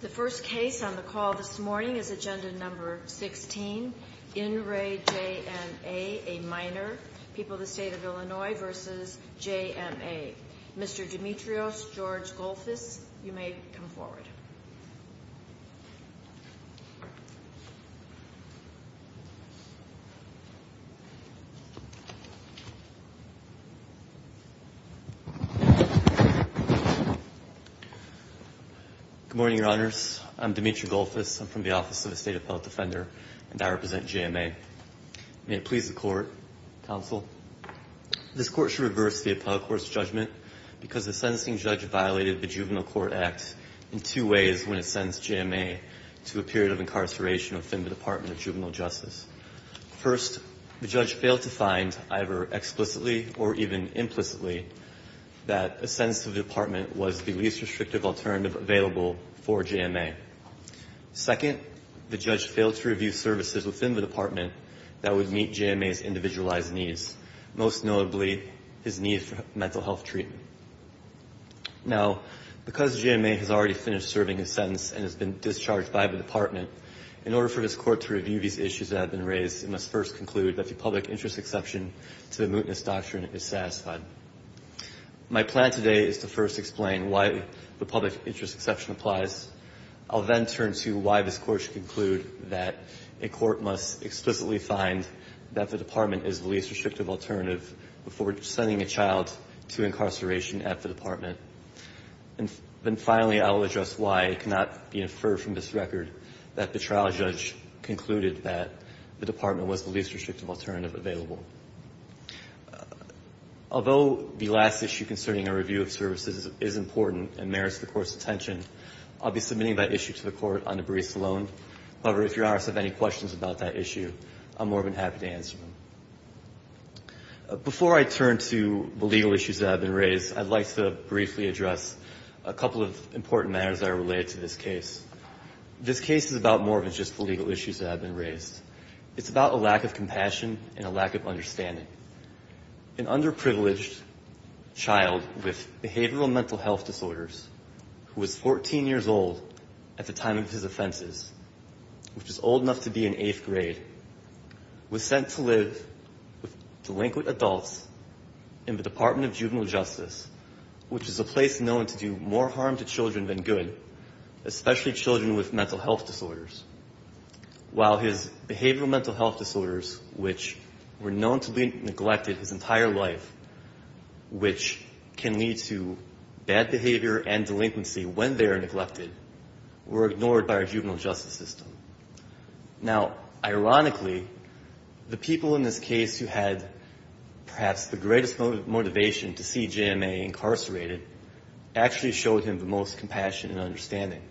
The first case on the call this morning is agenda number 16. In re J.M.A., a minor. People of the State of Illinois versus J.M.A. Mr. Demetrios, George Golfis, you may come forward. Good morning, Your Honors. I'm Demetrio Golfis. I'm from the Office of the State Appellate Defender, and I represent J.M.A. May it please the Court, Counsel, this Court shall reverse the appellate court's judgment because the sentencing judge violated the Juvenile Court Act in two ways when it sentenced J.M.A. to a period of incarceration within the Department of Juvenile Justice. First, the judge failed to find, either explicitly or even implicitly, that a sentence to the department was the least restrictive alternative available for J.M.A. Second, the judge failed to review services within the department that would meet J.M.A.'s individualized needs, most notably his need for mental health treatment. Now, because J.M.A. has already finished serving his sentence and has been discharged by the department, in order for this court to review these issues that have been raised, it must first conclude that the public interest exception to the mootness doctrine is satisfied. My plan today is to first explain why the public interest exception applies. I'll then turn to why this Court should conclude that a court must explicitly find that the department is the least restrictive alternative before sending a child to incarceration at the department. And then finally, I'll address why it cannot be inferred from this record that the trial judge concluded that the department was the least restrictive alternative available. Although the last issue concerning a review of services is important and merits the Court's attention, I'll be submitting that issue to the Court on a brief loan. However, if Your Honors have any questions about that issue, I'm more than happy to answer them. Before I turn to the legal issues that have been raised, I'd like to briefly address a couple of important matters that are related to this case. This case is about more than just the legal issues that have been raised. It's about a lack of compassion and a lack of understanding. An underprivileged child with behavioral mental health disorders who was 14 years old at the time of his offenses, which is old enough to be in eighth grade, was sent to live with delinquent adults in the Department of Juvenile Justice, which is a place known to do more harm to children than good, especially children with mental health disorders. While his behavioral mental health disorders, which were known to be neglected his entire life, which can lead to bad behavior and delinquency when they are neglected, were ignored by our juvenile justice system. Now, ironically, the people in this case who had perhaps the greatest motivation to see JMA incarcerated actually showed him the most compassion and understanding.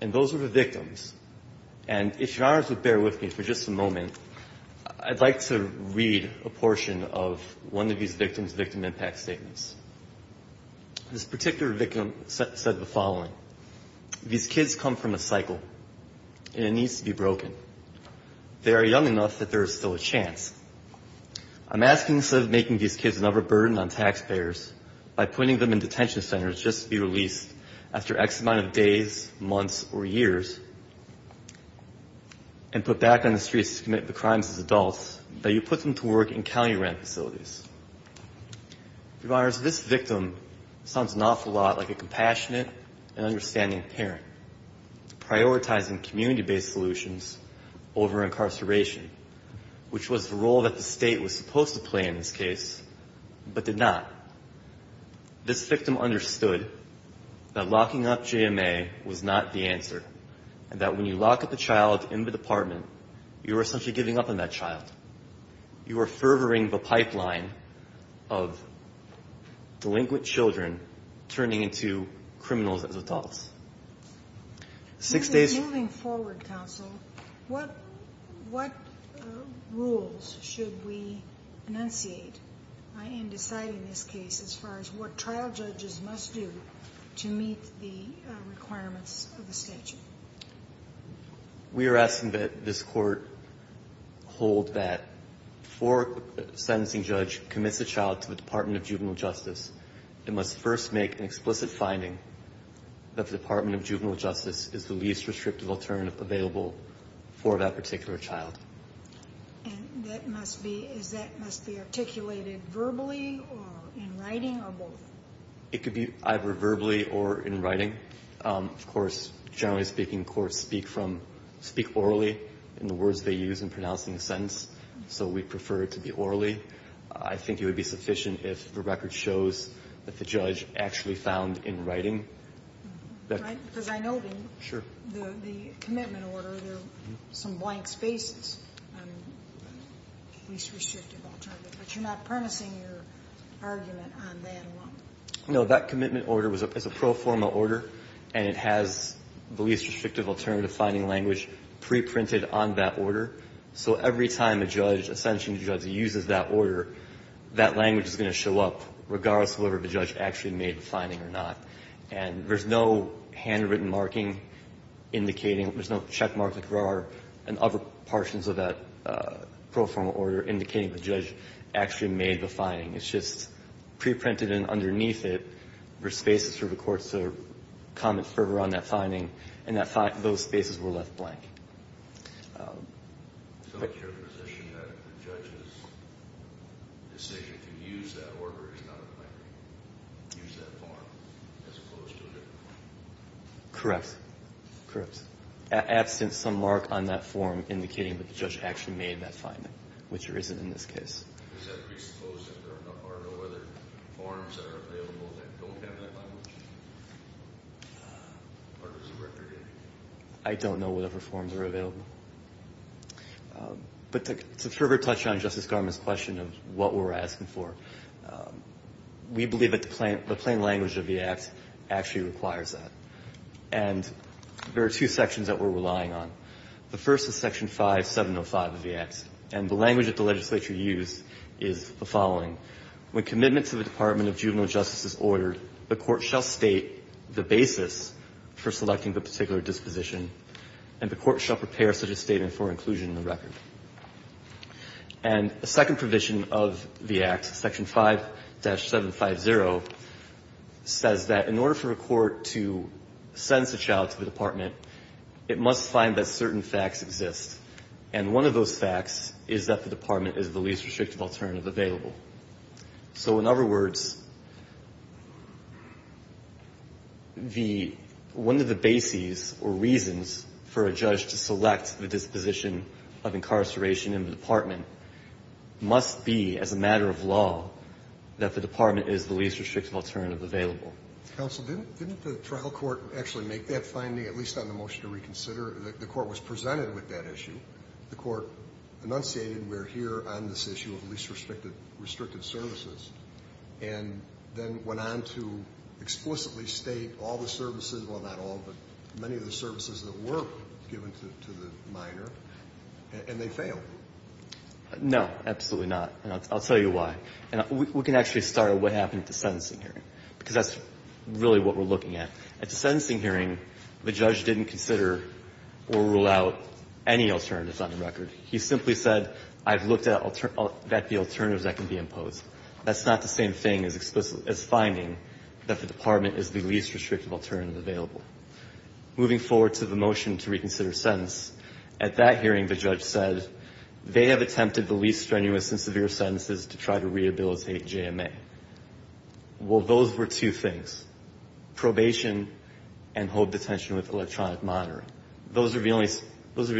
And those were the victims. And if Your Honors would bear with me for just a moment, I'd like to read a portion of one of these victims' victim impact statements. This particular victim said the following, these kids come from a cycle, and it needs to be broken. They are young enough that there is still a chance. I'm asking instead of making these kids another burden on taxpayers, by putting them in detention centers just to be released after X amount of days, months, or years, and put back on the streets to commit the crimes as adults, that you put them to work in county-run facilities. Your Honors, this victim sounds an awful lot like a compassionate and understanding parent, prioritizing community-based solutions over incarceration, which was the role that the state was supposed to play in this case, but did not. This victim understood that locking up JMA was not the answer, and that when you lock up a child in the department, you are essentially giving up on that child. You are furthering the pipeline of delinquent children turning into criminals as adults. Six days... Moving forward, counsel, what rules should we enunciate in deciding this case as far as what trial judges must do to meet the requirements of the statute? We are asking that this court hold that before a sentencing judge commits a child to the Department of Juvenile Justice, it must first make an explicit finding that the Department of Juvenile Justice is the least restrictive alternative available for that particular child. And that must be articulated verbally or in writing, or both? It could be either verbally or in writing. Of course, generally speaking, courts speak orally in the words they use in pronouncing the sentence, so we'd prefer it to be orally. I think it would be sufficient if the record shows that the judge actually found in writing that... Because I know that in the commitment order there are some blank spaces on least restrictive alternative, but you're not promising your argument on that alone. No, that commitment order is a pro forma order, and it has the least restrictive alternative finding language preprinted on that order. So every time a judge, a sentencing judge, uses that order, that language is going to show up, regardless of whether the judge actually made the finding or not. And there's no handwritten marking indicating, there's no checkmark like there are in other portions of that pro forma order indicating the judge actually made the finding. It's just preprinted and underneath it were spaces for the courts to comment further on that finding, and those spaces were left blank. So it's your position that the judge's decision to use that order is not going to use that form as opposed to a different form? Correct. Correct. Absent some mark on that form indicating that the judge actually made that finding, which there isn't in this case. Does that presuppose that there are no other forms that are available that don't have that language? Or does the record indicate that? I don't know whatever forms are available. But to further touch on Justice Garment's question of what we're asking for, we believe that the plain language of the Act actually requires that. And there are two sections that we're relying on. The first is Section 5705 of the Act. And the language that the legislature used is the following. When commitment to the Department of Juvenile Justice is ordered, the court shall state the basis for selecting the particular disposition, and the court shall prepare such a statement for inclusion in the record. And a second provision of the Act, Section 5-750, says that in order for a court to send the child to the department, it must find that certain facts exist. And one of those facts is that the department is the least restrictive alternative available. So in other words, the one of the bases or reasons for a judge to select the disposition of incarceration in the department must be, as a matter of law, that the department is the least restrictive alternative available. Counsel, didn't the trial court actually make that finding, at least on the motion to reconsider? After the court was presented with that issue, the court enunciated, we're here on this issue of least restrictive services, and then went on to explicitly state all the services, well, not all, but many of the services that were given to the minor, and they failed. No, absolutely not, and I'll tell you why. We can actually start at what happened at the sentencing hearing, because that's really what we're looking at. At the sentencing hearing, the judge didn't consider or rule out any alternatives on the record. He simply said, I've looked at the alternatives that can be imposed. That's not the same thing as finding that the department is the least restrictive alternative available. Moving forward to the motion to reconsider sentence, at that hearing, the judge said, they have attempted the least strenuous and severe sentences to try to rehabilitate JMA. Well, those were two things, probation and hold detention with electronic monitor. Those were the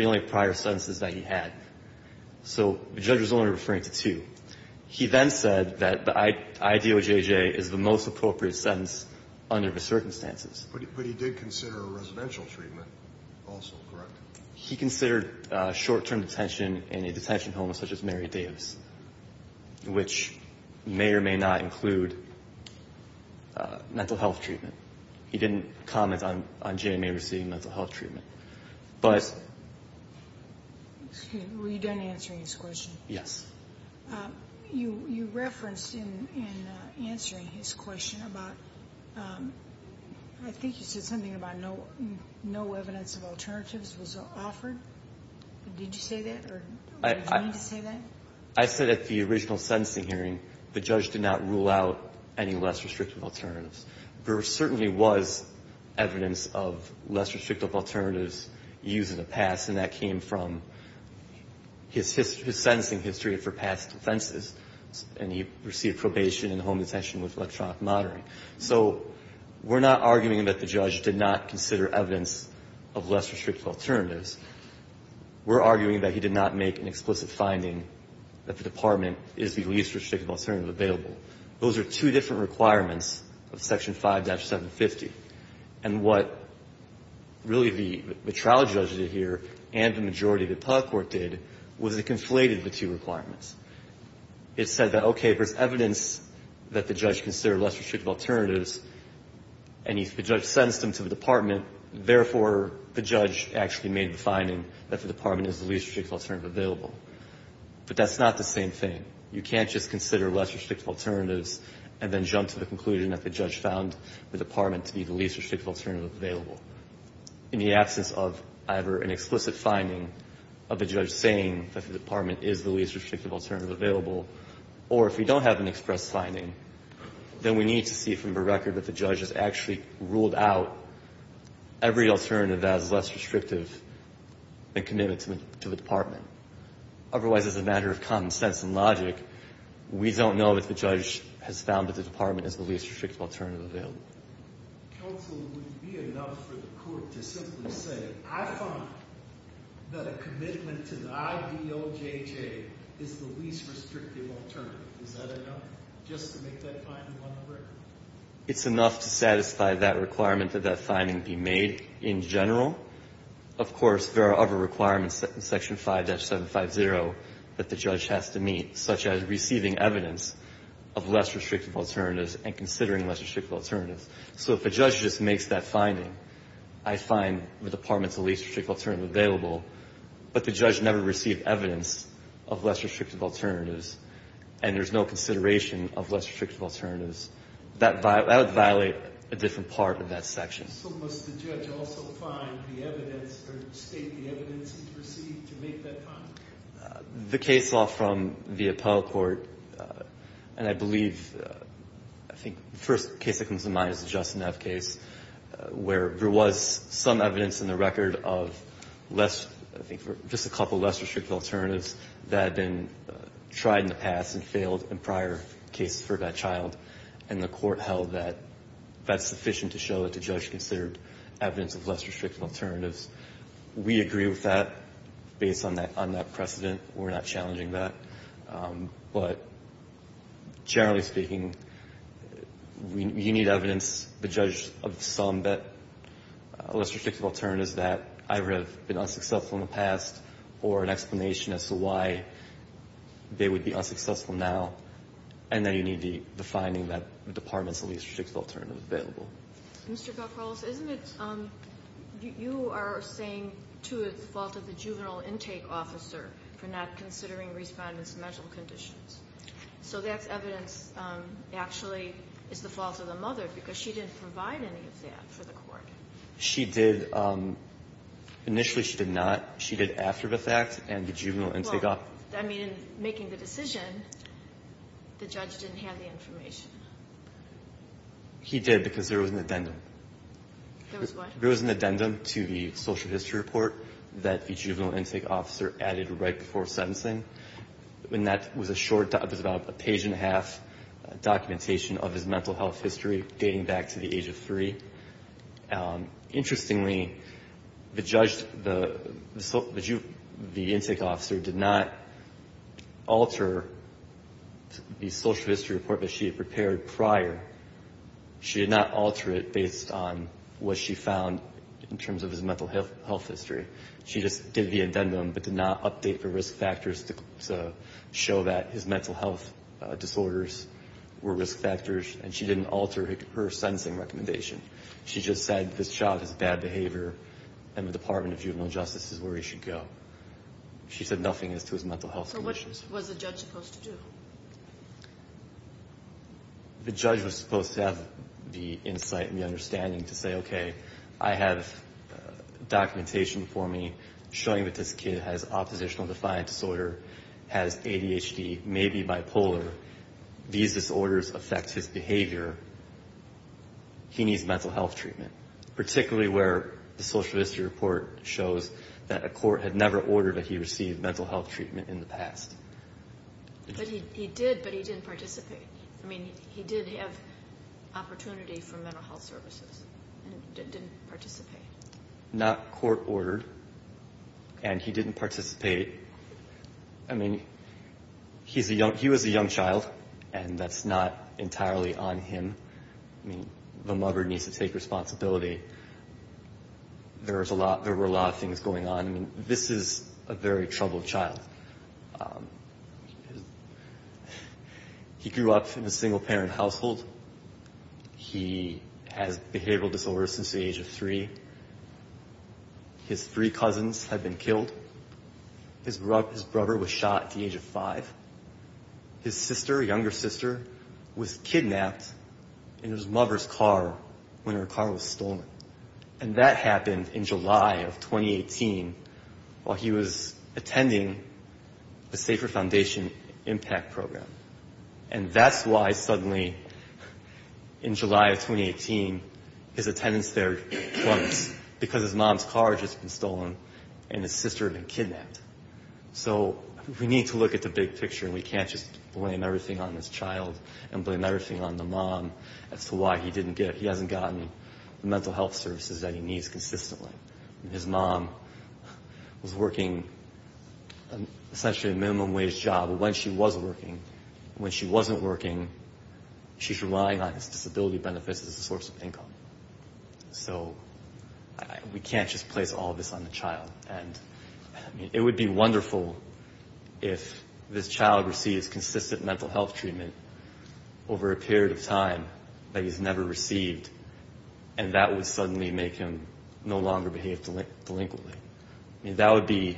only prior sentences that he had, so the judge was only referring to two. He then said that the IDOJJ is the most appropriate sentence under the circumstances. But he did consider a residential treatment also, correct? He considered short-term detention in a detention home such as Mary Dave's, which may or may not include mental health treatment. He didn't comment on JMA receiving mental health treatment. Were you done answering his question? Yes. You referenced in answering his question about, I think you said something about no evidence of alternatives was offered. Did you say that, or did you mean to say that? I said at the original sentencing hearing, the judge did not rule out any less restrictive alternatives. There certainly was evidence of less restrictive alternatives used in the past, and that came from his sentencing history for past offenses, and he received probation and home detention with electronic monitoring. So we're not arguing that the judge did not consider evidence of less restrictive alternatives. We're arguing that he did not make an explicit finding that the Department is the least restrictive alternative available. Those are two different requirements of Section 5-750. And what really the trial judge did here, and the majority of the appellate court did, was it conflated the two requirements. It said that, okay, there's evidence that the judge considered less restrictive alternatives, and the judge sentenced him to the Department, therefore, the judge actually made the finding that the Department is the least restrictive alternative available. But that's not the same thing. You can't just consider less restrictive alternatives and then jump to the conclusion that the judge found the Department to be the least restrictive alternative available. In the absence of either an explicit finding of the judge saying that the Department is the least restrictive alternative available, or if we don't have an express finding, then we need to see from the record that the judge has actually ruled out every alternative that is less restrictive and committed to the Department. Otherwise, as a matter of common sense and logic, we don't know that the judge has found that the Department is the least restrictive alternative available. Counsel, would it be enough for the court to simply say, I find that a commitment to the IBOJJ is the least restrictive alternative? Is that enough just to make that finding on the record? It's enough to satisfy that requirement that that finding be made in general. Of course, there are other requirements in Section 5-750 that the judge has to meet, such as receiving evidence of less restrictive alternatives and considering less restrictive alternatives. So if a judge just makes that finding, I find the Department's the least restrictive alternative available, but the judge never received evidence of less restrictive alternatives, and there's no consideration of less restrictive alternatives, that would violate a different part of that section. So must the judge also find the evidence or state the evidence he received to make that finding? The case law from the Appellate Court, and I believe I think the first case that comes to mind is the Justin F. case, where there was some evidence in the record of less, I think just a couple less restrictive alternatives that had been tried in the past and failed in prior cases for that child, and the Court held that that's sufficient to show that the judge considered evidence of less restrictive alternatives. We agree with that based on that precedent. We're not challenging that. But generally speaking, you need evidence. The judge of some less restrictive alternatives that either have been unsuccessful in the past or an explanation as to why they would be unsuccessful now, and then you need the finding that the Department's the least restrictive alternative is available. Mr. Kalkholz, isn't it you are saying, too, it's the fault of the juvenile intake officer for not considering Respondent's mental conditions. So that's evidence, actually, it's the fault of the mother, because she didn't provide any of that for the Court. She did. Initially, she did not. She did after the fact and the juvenile intake officer. Well, I mean, in making the decision, the judge didn't have the information. He did, because there was an addendum. There was what? There was an addendum to the social history report that the juvenile intake officer added right before sentencing, and that was a short, it was about a page and a half documentation of his mental health history dating back to the age of three. Interestingly, the juvenile intake officer did not alter the social history report that she had prepared prior. She did not alter it based on what she found in terms of his mental health history. She just did the addendum but did not update the risk factors to show that his mental health disorders were risk factors, and she didn't alter her sentencing recommendation. She just said this child has bad behavior and the Department of Juvenile Justice is where he should go. She said nothing as to his mental health conditions. So what was the judge supposed to do? The judge was supposed to have the insight and the understanding to say, okay, I have documentation for me showing that this kid has oppositional defiant disorder, has ADHD, may be bipolar. These disorders affect his behavior. He needs mental health treatment, particularly where the social history report shows that a court had never ordered that he receive mental health treatment in the past. But he did, but he didn't participate. I mean, he did have opportunity for mental health services and didn't participate. Not court ordered, and he didn't participate. I mean, he was a young child, and that's not entirely on him. I mean, the mother needs to take responsibility. There were a lot of things going on. I mean, this is a very troubled child. He grew up in a single-parent household. He has behavioral disorders since the age of three. His three cousins have been killed. His brother was shot at the age of five. His sister, younger sister, was kidnapped in his mother's car when her car was stolen. And that happened in July of 2018 while he was attending the Safer Foundation Impact Program. And that's why suddenly in July of 2018 his attendance there clunked, because his mom's car had just been stolen and his sister had been kidnapped. So we need to look at the big picture, and we can't just blame everything on this child and blame everything on the mom as to why he didn't get it. I mean, his mom was working essentially a minimum-wage job. But when she was working, when she wasn't working, she's relying on his disability benefits as a source of income. So we can't just place all of this on the child. And it would be wonderful if this child received consistent mental health treatment over a period of time that he's never received, and that would suddenly make him no longer behave delinquently. I mean, that would be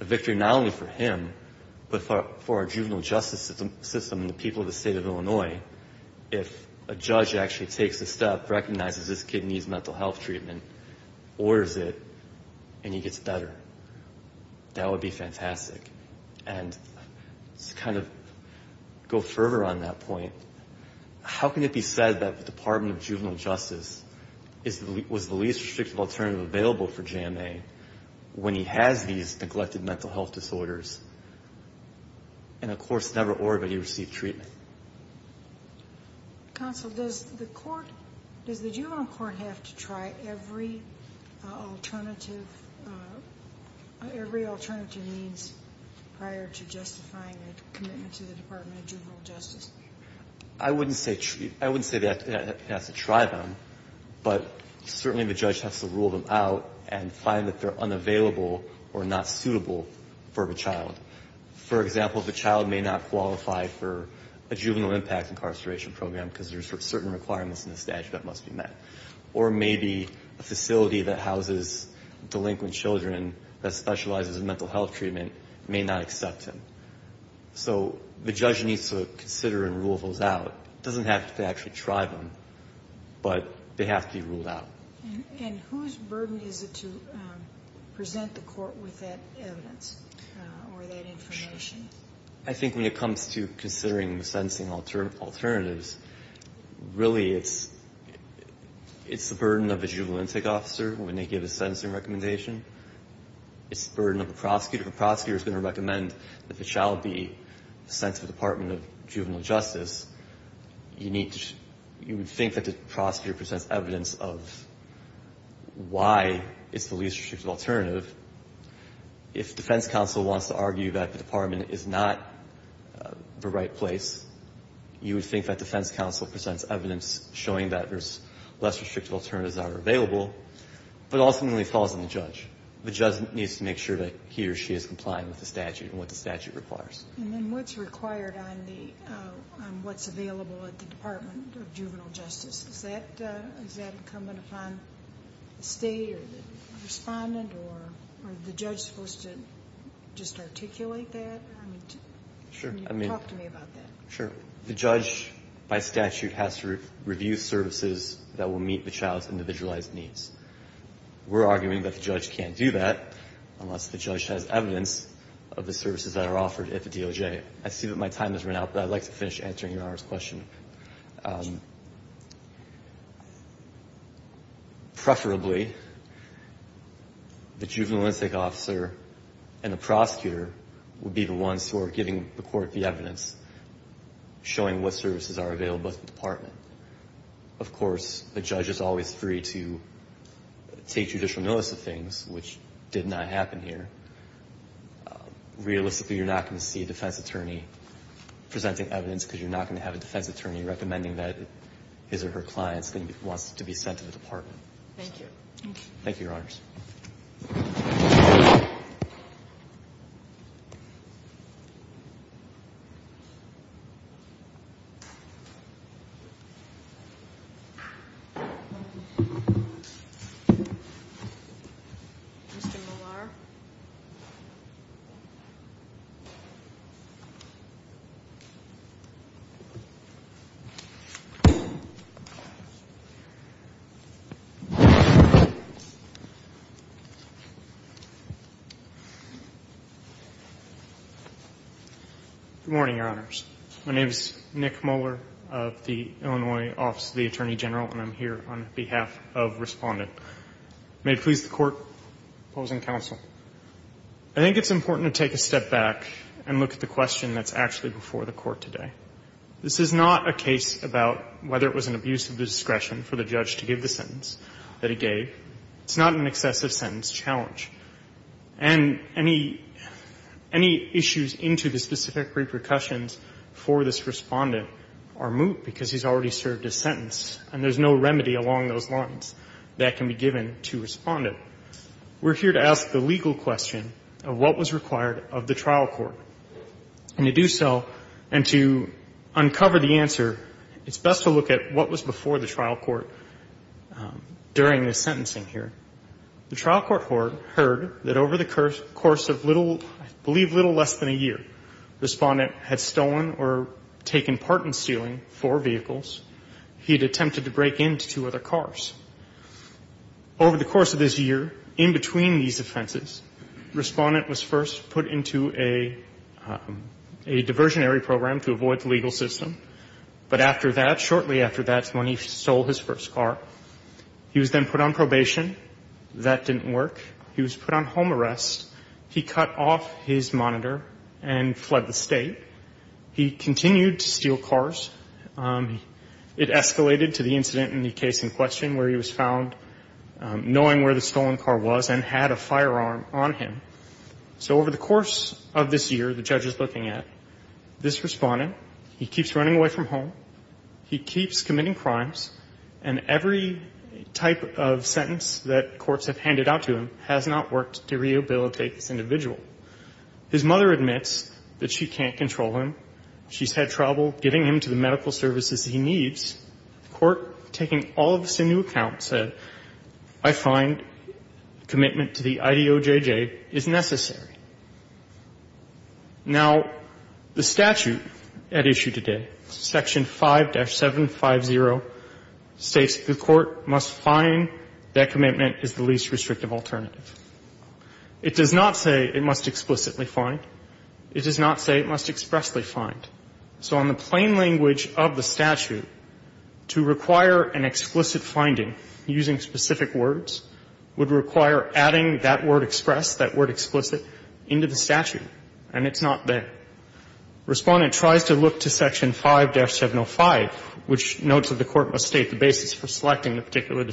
a victory not only for him, but for our juvenile justice system and the people of the state of Illinois if a judge actually takes a step, recognizes this kid needs mental health treatment, orders it, and he gets better. That would be fantastic. And to kind of go further on that point, how can it be said that the Department of Juvenile Justice was the least restrictive alternative available for JMA when he has these neglected mental health disorders and, of course, never ordered that he receive treatment? Counsel, does the court, does the juvenile court have to try every alternative means prior to justifying a commitment to the Department of Juvenile Justice? I wouldn't say that it has to try them, but certainly the judge has to rule them out and find that they're unavailable or not suitable for the child. For example, the child may not qualify for a juvenile impact incarceration program because there are certain requirements in the statute that must be met. Or maybe a facility that houses delinquent children that specializes in mental health treatment may not accept him. So the judge needs to consider and rule those out. It doesn't have to actually try them, but they have to be ruled out. And whose burden is it to present the court with that evidence or that information? I think when it comes to considering the sentencing alternatives, really it's the burden of the juvenile intake officer when they give a sentencing recommendation. It's the burden of the prosecutor. The prosecutor is going to recommend that the child be sent to the Department of Juvenile Justice. You would think that the prosecutor presents evidence of why it's the least restrictive alternative. If defense counsel wants to argue that the Department is not the right place, you would think that defense counsel presents evidence showing that there's less restrictive alternatives that are available. But ultimately it falls on the judge. The judge needs to make sure that he or she is complying with the statute and what the statute requires. And then what's required on what's available at the Department of Juvenile Justice? Is that incumbent upon the state or the respondent, or are the judge supposed to just articulate that? Can you talk to me about that? Sure. The judge, by statute, has to review services that will meet the child's individualized needs. We're arguing that the judge can't do that unless the judge has evidence of the services that are offered at the DOJ. I see that my time has run out, but I'd like to finish answering Your Honor's question. I think that the process is always very, very restrictive. Preferably, the juvenile instinct officer and the prosecutor would be the ones who are giving the court the evidence, showing what services are available at the department. Of course, the judge is always free to take judicial notice of things, which did not happen here. Realistically, you're not going to see a defense attorney presenting evidence because you're not going to have a defense attorney recommending that his or her client wants to be sent to the department. Thank you. Thank you. Good morning, Your Honors. My name is Nick Moeller of the Illinois Office of the Attorney General, and I'm here on behalf of Respondent. May it please the Court, opposing counsel. I think it's important to take a step back and look at the question that's actually before the Court today. This is not a case about whether it was an abuse of discretion for the judge to give the sentence that he gave. It's not an excessive sentence challenge. And any issues into the specific repercussions for this Respondent are moot because he's already served his sentence, and there's no remedy along those lines that can be given to Respondent. We're here to ask the legal question of what was required of the trial court. And to do so and to uncover the answer, it's best to look at what was before the trial court during the sentencing here. The trial court heard that over the course of little, I believe little less than a year, Respondent had stolen or taken part in stealing four vehicles. He had attempted to break into two other cars. Over the course of this year, in between these offenses, Respondent was first put into a diversionary program to avoid the legal system. But after that, shortly after that's when he stole his first car. He was then put on probation. That didn't work. He was put on home arrest. He cut off his monitor and fled the State. He continued to steal cars. It escalated to the incident in the case in question where he was found knowing where the stolen car was and had a firearm on him. So over the course of this year, the judge is looking at this Respondent. He keeps running away from home. He keeps committing crimes. And every type of sentence that courts have handed out to him has not worked to rehabilitate this individual. His mother admits that she can't control him. She's had trouble getting him to the medical services he needs. The court, taking all of this into account, said, I find commitment to the IDOJJ is necessary. Now, the statute at issue today, Section 5-750, states the court must find that commitment is the least restrictive alternative. It does not say it must explicitly find. It does not say it must expressly find. So on the plain language of the statute, to require an explicit finding using specific words would require adding that word express, that word explicit, into the statute. And it's not there. Respondent tries to look to Section 5-705, which notes that the court must state the basis for selecting the particular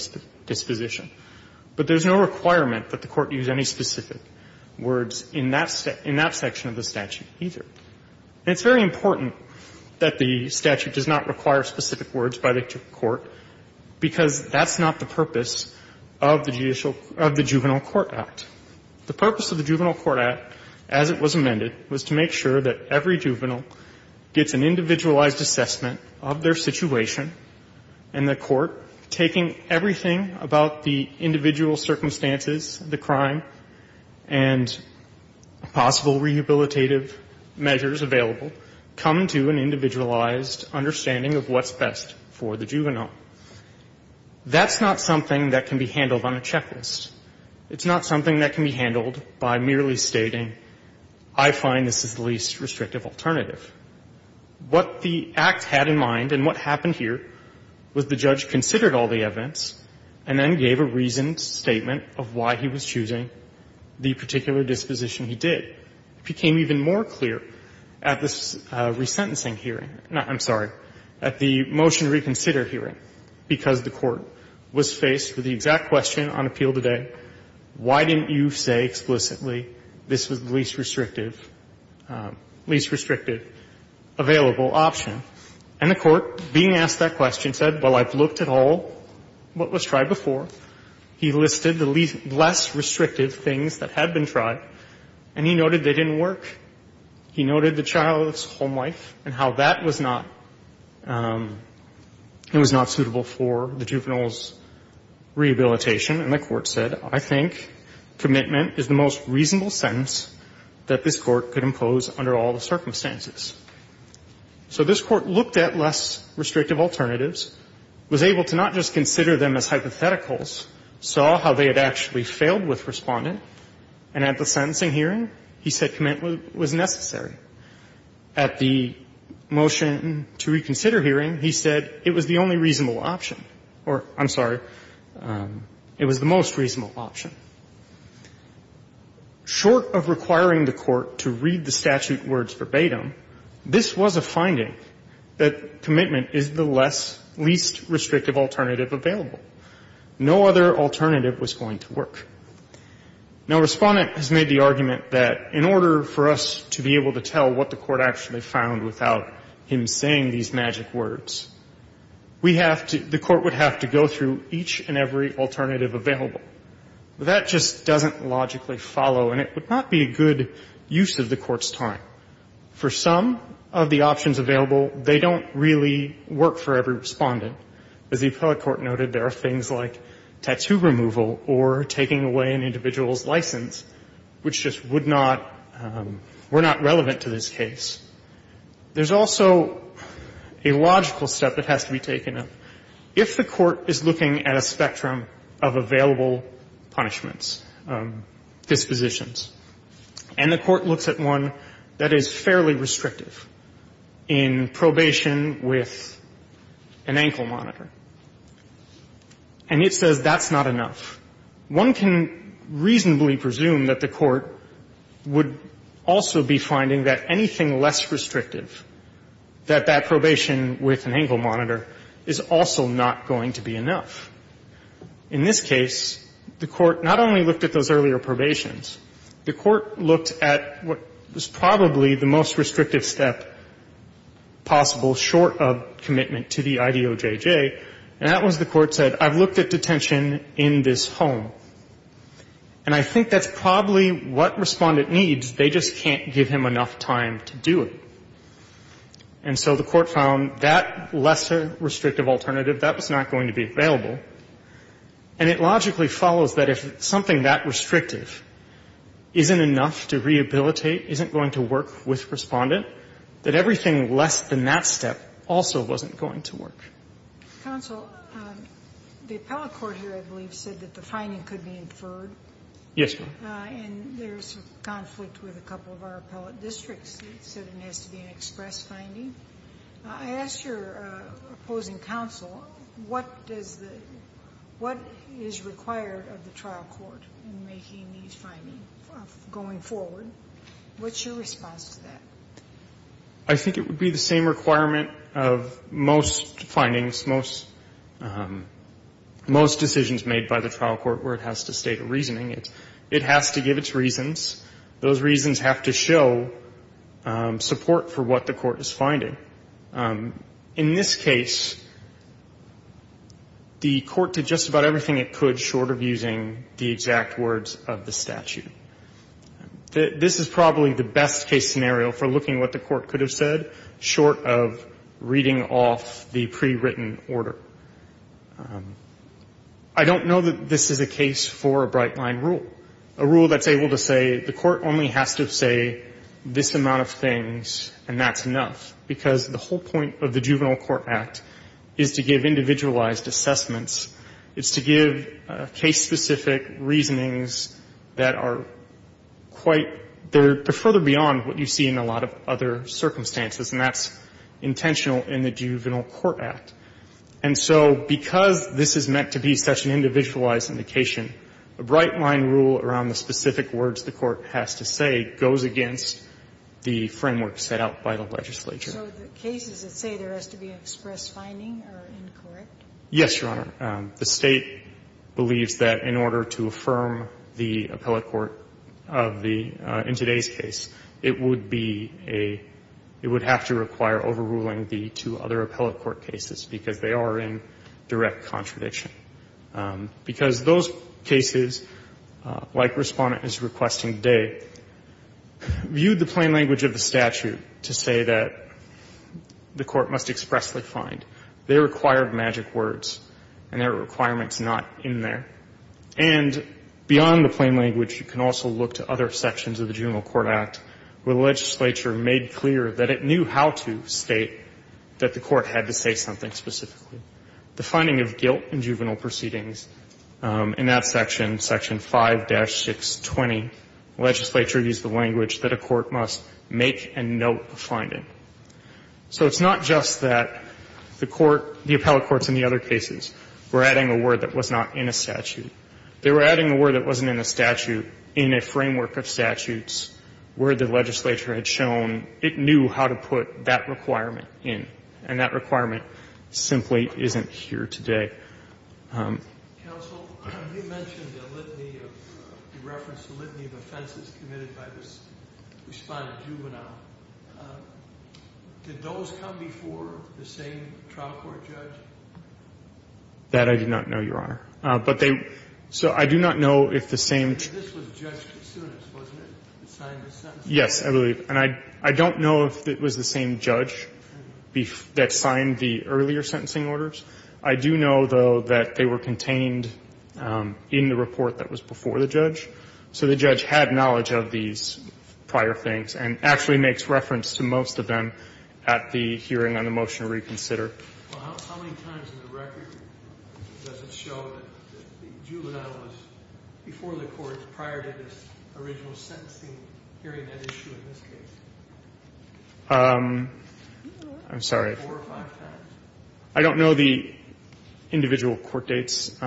disposition. But there's no requirement that the court use any specific words in that section of the statute, either. And it's very important that the statute does not require specific words by the court, because that's not the purpose of the judicial of the Juvenile Court Act. The purpose of the Juvenile Court Act, as it was amended, was to make sure that every juvenile gets an individualized assessment of their situation, and the court, taking everything about the individual circumstances, the crime, and possible rehabilitative measures available, come to an individualized understanding of what's best for the juvenile. That's not something that can be handled on a checklist. It's not something that can be handled by merely stating, I find this is the least restrictive alternative. What the Act had in mind, and what happened here, was the judge considered all the evidence, and then gave a reasoned statement of why he was choosing the particular disposition he did. It became even more clear at this resentencing hearing, no, I'm sorry, at the motion to reconsider hearing, because the court was faced with the exact question on appeal today, why didn't you say explicitly this was the least restrictive, least restrictive available option. And the court, being asked that question, said, well, I've looked at all what was tried before. He listed the less restrictive things that had been tried, and he noted they didn't work. He noted the child's home life and how that was not, it was not suitable for the juvenile's rehabilitation, and the court said, I think commitment is the most reasonable sentence that this Court could impose under all the circumstances. So this Court looked at less restrictive alternatives, was able to not just consider them as hypotheticals, saw how they had actually failed with Respondent, and at the sentencing hearing, he said commitment was necessary. At the motion to reconsider hearing, he said it was the only reasonable option. Or, I'm sorry, it was the most reasonable option. Short of requiring the court to read the statute words verbatim, this was a finding that commitment is the less, least restrictive alternative available. No other alternative was going to work. Now, Respondent has made the argument that in order for us to be able to tell what the court actually found without him saying these magic words, we have to, the court would have to go through each and every alternative available. That just doesn't logically follow, and it would not be a good use of the Court's time. For some of the options available, they don't really work for every Respondent. As the appellate court noted, there are things like tattoo removal or taking away an individual's license, which just would not, were not relevant to this case. There's also a logical step that has to be taken. If the court is looking at a spectrum of available punishments, dispositions, and the court looks at one that is fairly restrictive in probation with an ankle monitor, and it says that's not enough, one can reasonably presume that the court would also be finding that anything less restrictive, that that probation with an ankle monitor is also not going to be enough. In this case, the court not only looked at those earlier probations, the court looked at what was probably the most restrictive step possible short of commitment to the IDOJJ, and that was the court said, I've looked at detention in this home. And I think that's probably what Respondent needs. They just can't give him enough time to do it. And so the court found that lesser restrictive alternative, that was not going to be available. And it logically follows that if something that restrictive isn't enough to rehabilitate, isn't going to work with Respondent, that everything less than that step also wasn't going to work. Sotomayor, the appellate court here, I believe, said that the finding could be inferred. Yes, ma'am. And there's a conflict with a couple of our appellate districts that said it has to be an express finding. I ask your opposing counsel, what does the what is required of the trial court in making these findings going forward? What's your response to that? I think it would be the same requirement of most findings, most decisions made by the trial court where it has to state a reasoning. It has to give its reasons. Those reasons have to show support for what the court is finding. In this case, the court did just about everything it could short of using the exact words of the statute. This is probably the best case scenario for looking at what the court could have said short of reading off the pre-written order. I don't know that this is a case for a bright-line rule, a rule that's able to say the court only has to say this amount of things and that's enough, because the whole point of the Juvenile Court Act is to give individualized assessments. It's to give case-specific reasonings that are quite they're further beyond what you see in a lot of other circumstances, and that's intentional in the Juvenile Court Act. And so because this is meant to be such an individualized indication, a bright-line rule around the specific words the court has to say goes against the framework set out by the legislature. So the cases that say there has to be an express finding are incorrect? Yes, Your Honor. The State believes that in order to affirm the appellate court of the – in today's case, it would be a – it would have to require overruling the two other appellate court cases because they are in direct contradiction. Because those cases, like Respondent is requesting today, viewed the plain language of the statute to say that the court must expressly find. They require magic words, and that requirement is not in there. And beyond the plain language, you can also look to other sections of the Juvenile Court Act where the legislature made clear that it knew how to state that the court had to say something specifically. The finding of guilt in juvenile proceedings, in that section, Section 5-620, the legislature used the language that a court must make a note of finding. So it's not just that the court – the appellate courts in the other cases were adding a word that was not in a statute. They were adding a word that wasn't in a statute in a framework of statutes where the legislature had shown it knew how to put that requirement in. And that requirement simply isn't here today. Sotomayor. Counsel, you mentioned the litany of – you referenced the litany of offenses committed by this Respondent juvenile. Did those come before the same trial court judge? That I do not know, Your Honor. But they – so I do not know if the same – This was judged as soon as, wasn't it, it signed the sentencing? Yes, I believe. And I don't know if it was the same judge that signed the earlier sentencing orders. I do know, though, that they were contained in the report that was before the judge. So the judge had knowledge of these prior things and actually makes reference to most of them at the hearing on the motion to reconsider. Well, how many times in the record does it show that the juvenile was before the court prior to this original sentencing hearing that issue in this case? I'm sorry. Four or five times. I don't know the individual court dates.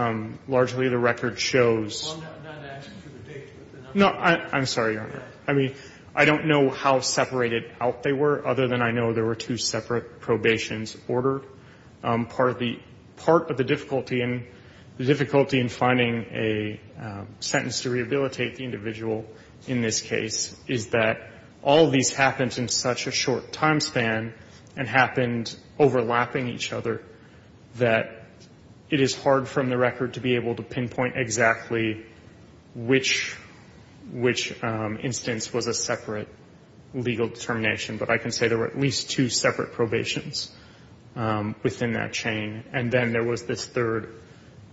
Largely, the record shows – Well, I'm not asking for the date. No. I'm sorry, Your Honor. I mean, I don't know how separated out they were, other than I know there were two separate probations ordered. Part of the difficulty in finding a sentence to rehabilitate the individual in this case is that all of these happened in such a short time span and happened in such a short period of time that it is hard from the record to be able to pinpoint exactly which instance was a separate legal determination. But I can say there were at least two separate probations within that chain. And then there was this third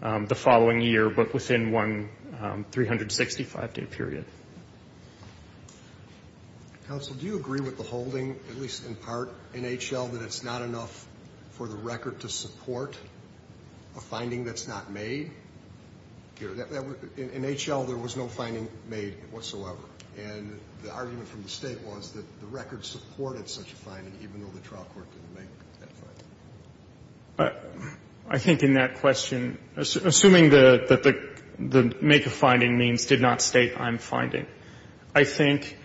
the following year, but within one 365-day period. Counsel, do you agree with the holding, at least in part, in H.L., that it's not enough for the record to support a finding that's not made? In H.L., there was no finding made whatsoever. And the argument from the State was that the record supported such a finding, even though the trial court didn't make that finding. I think in that question, assuming that the make of finding means did not state I'm not going to make that finding, I think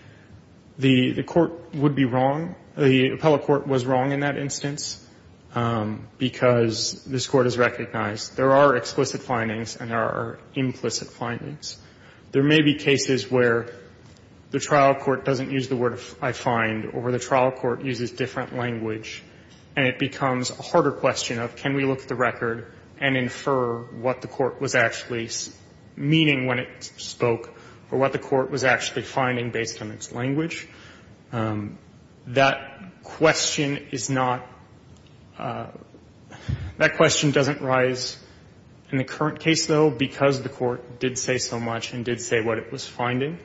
the court would be wrong, the appellate court was wrong in that instance, because this court has recognized there are explicit findings and there are implicit findings. There may be cases where the trial court doesn't use the word I find or where the trial court uses different language, and it becomes a harder question of can we look at the evidence that the court was actually finding based on its language. That question is not that question doesn't rise in the current case, though, because the court did say so much and did say what it was finding.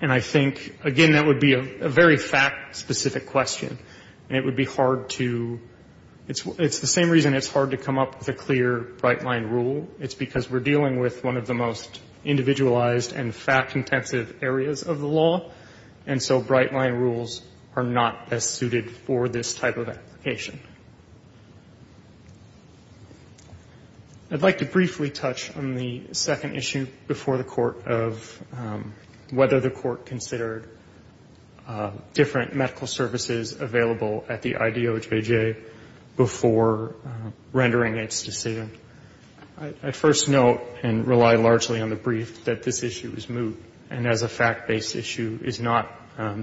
And I think, again, that would be a very fact-specific question, and it would be hard to it's the same reason it's hard to come up with a clear, bright-line rule. It's because we're dealing with one of the most individualized and fact-intensive areas of the law, and so bright-line rules are not as suited for this type of application. I'd like to briefly touch on the second issue before the Court of whether the Court considered different medical services available at the IDOJJ before rendering its decision. I first note and rely largely on the brief that this issue is moot and as a fact-based issue is not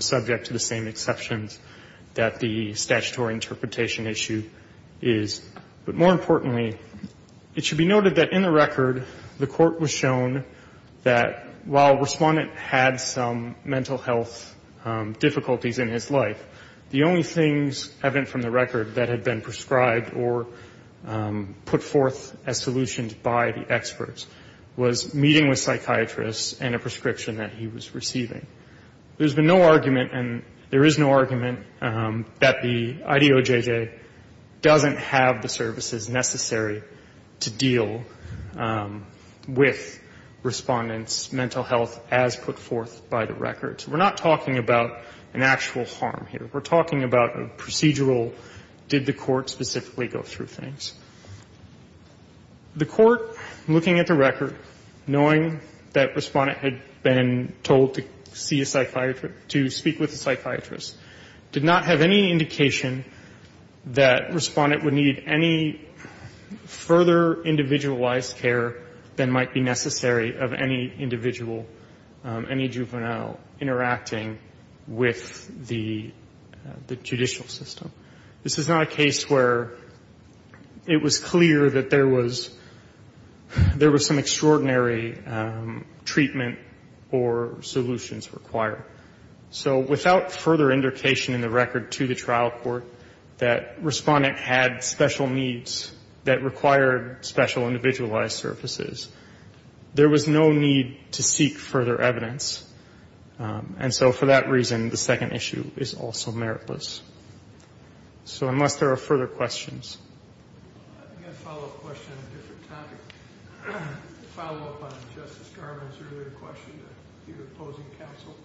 subject to the same exceptions that the statutory interpretation issue is. But more importantly, it should be noted that in the record, the Court was shown that while Respondent had some mental health difficulties in his life, the only things evident from the record that had been prescribed or put forth as solutions by the experts was meeting with psychiatrists and a prescription that he was receiving. There's been no argument and there is no argument that the IDOJJ doesn't have the services necessary to deal with Respondent's mental health as put forth by the record. So we're not talking about an actual harm here. We're talking about a procedural, did the court specifically go through things. The court, looking at the record, knowing that Respondent had been told to see a psychiatrist to speak with a psychiatrist, did not have any indication that Respondent would need any further individualized care than might be necessary of any individual, any juvenile interacting with the judicial system. This is not a case where it was clear that there was some extraordinary treatment or solutions required. So without further indication in the record to the trial court that Respondent had special needs that required special individualized services, there was no need to seek further evidence. And so for that reason, the second issue is also meritless. So unless there are further questions. I've got a follow-up question on a different topic. A follow-up on Justice Garland's earlier question to the opposing counsel.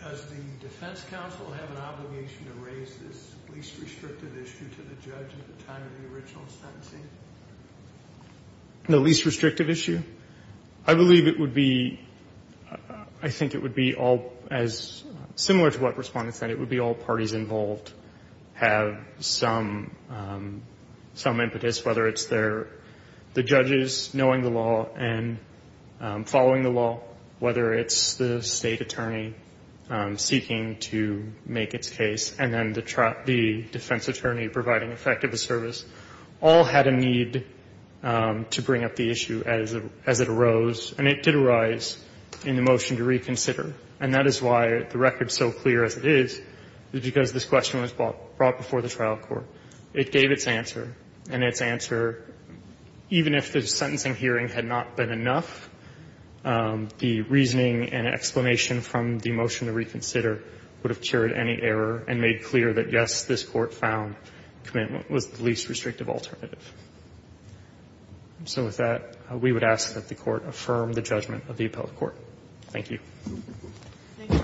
Does the defense counsel have an obligation to raise this least restrictive issue to the judge at the time of the original sentencing? The least restrictive issue? I believe it would be as similar to what Respondent said. It would be all parties involved have some impetus, whether it's the judges knowing the law and following the law, whether it's the State attorney seeking to make its case and then the defense attorney providing effective service, all had a need to bring up the issue as it arose. And it did arise in the motion to reconsider. And that is why the record is so clear as it is, because this question was brought before the trial court. It gave its answer, and its answer, even if the sentencing hearing had not been enough, the reasoning and explanation from the motion to reconsider would have cured any error and made clear that, yes, this Court found commitment was the least restrictive alternative. So with that, we would ask that the Court affirm the judgment of the appellate court. Thank you. Thank you.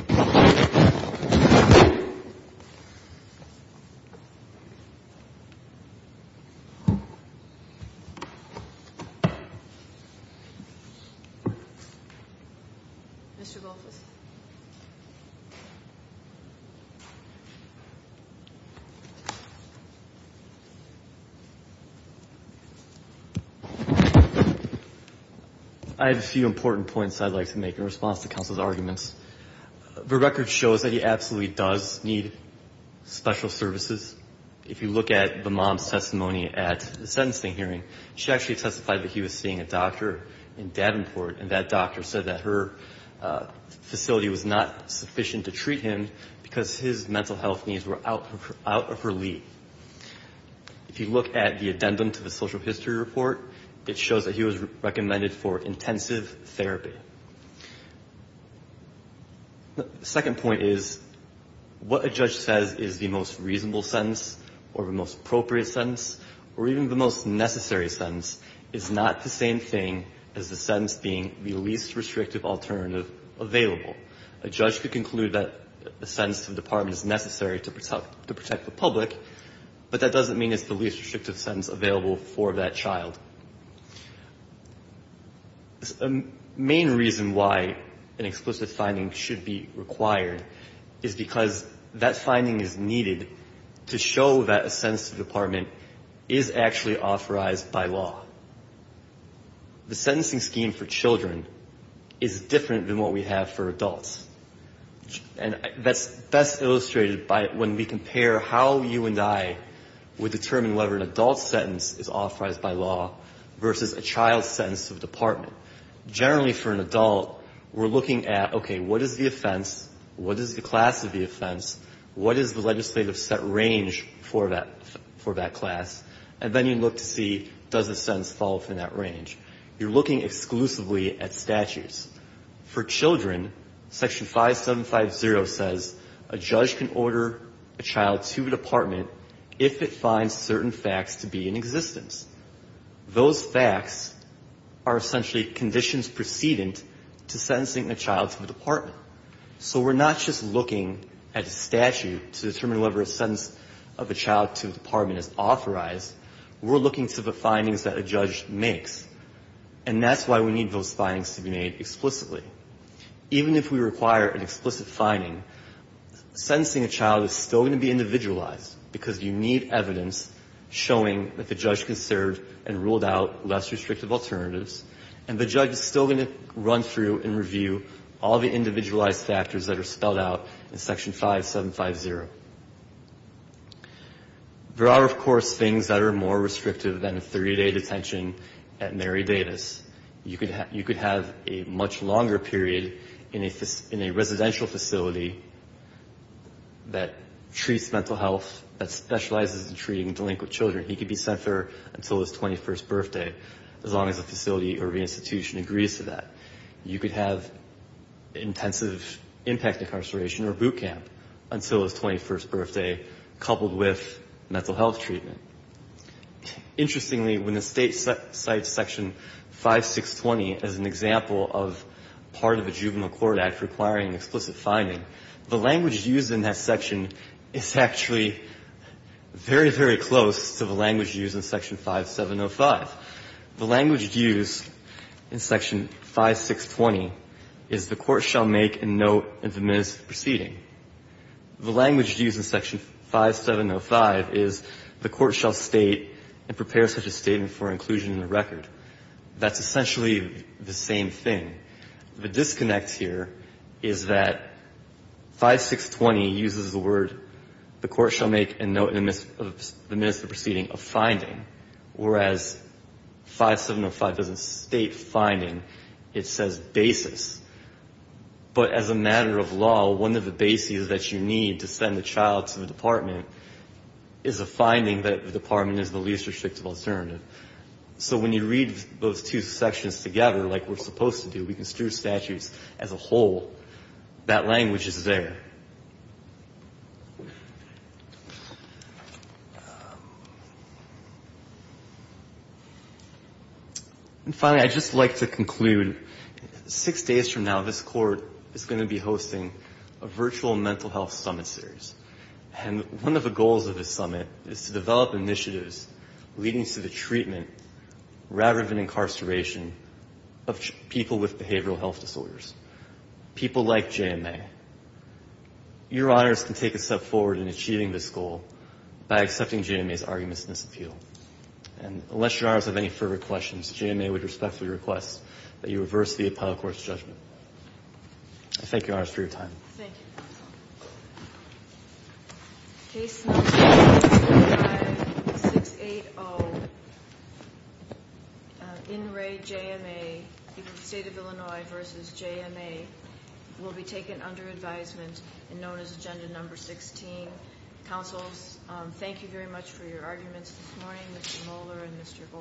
Mr. Goldfuss. I have a few important points I'd like to make in response to counsel's arguments. The record shows that he absolutely does need special services. If you look at the mom's testimony at the sentencing hearing, she actually testified that he was seeing a doctor in Davenport, and that doctor said that her facility was not sufficient to treat him because his mental health needs were out of her league. If you look at the addendum to the social history report, it shows that he was recommended for intensive therapy. The second point is, what a judge says is the most reasonable sentence or the most appropriate sentence or even the most necessary sentence is not the same thing as the least restrictive alternative available. A judge could conclude that a sentence to the department is necessary to protect the public, but that doesn't mean it's the least restrictive sentence available for that child. The main reason why an explicit finding should be required is because that finding is needed to show that a sentence to the department is actually authorized by law. The sentencing scheme for children is different than what we have for adults. And that's best illustrated by when we compare how you and I would determine whether an adult sentence is authorized by law versus a child sentence to the department. Generally, for an adult, we're looking at, okay, what is the offense, what is the class of the offense, what is the legislative set range for that class, and then you look to see does the sentence fall within that range. You're looking exclusively at statutes. For children, Section 5750 says a judge can order a child to a department if it finds certain facts to be in existence. Those facts are essentially conditions precedent to sentencing a child to the department. So we're not just looking at a statute to determine whether a sentence of a child to a department is authorized. We're looking to the findings that a judge makes. And that's why we need those findings to be made explicitly. Even if we require an explicit finding, sentencing a child is still going to be individualized because you need evidence showing that the judge can serve and ruled out less restrictive alternatives, and the judge is still going to run through and review all the individualized factors that are spelled out in Section 5750. There are, of course, things that are more restrictive than a 30-day detention at Mary Davis. You could have a much longer period in a residential facility that treats mental health, that specializes in treating delinquent children. He could be sent there until his 21st birthday as long as the facility or the institution agrees to that. You could have intensive impact incarceration or boot camp until his 21st birthday, coupled with mental health treatment. Interestingly, when the State cites Section 5620 as an example of part of the Juvenile Court Act requiring an explicit finding, the language used in that section is actually very, very close to the language used in Section 5705. The language used in Section 5620 is the court shall make a note in the minutes of the proceeding. The language used in Section 5705 is the court shall state and prepare such a statement for inclusion in the record. That's essentially the same thing. The disconnect here is that 5620 uses the word the court shall make a note in the minutes of the proceeding of finding, whereas 5705 doesn't state finding. It says basis. But as a matter of law, one of the bases that you need to send a child to the department is a finding that the department is the least restrictive alternative. So when you read those two sections together like we're supposed to do, we can skew statutes as a whole. That language is there. And finally, I'd just like to conclude. Six days from now, this Court is going to be hosting a virtual mental health summit series. And one of the goals of this summit is to develop initiatives leading to the treatment of people with behavioral health disorders. People like JMA. Your Honors can take a step forward in achieving this goal by accepting JMA's arguments in this appeal. And unless Your Honors have any further questions, JMA would respectfully request that you reverse the appellate court's judgment. I thank Your Honors for your time. Thank you. Case number 45680, In Re JMA, State of Illinois v. JMA, will be taken under advisement and known as agenda number 16. Counsels, thank you very much for your arguments this morning. Mr. Mohler and Mr. Goldstein.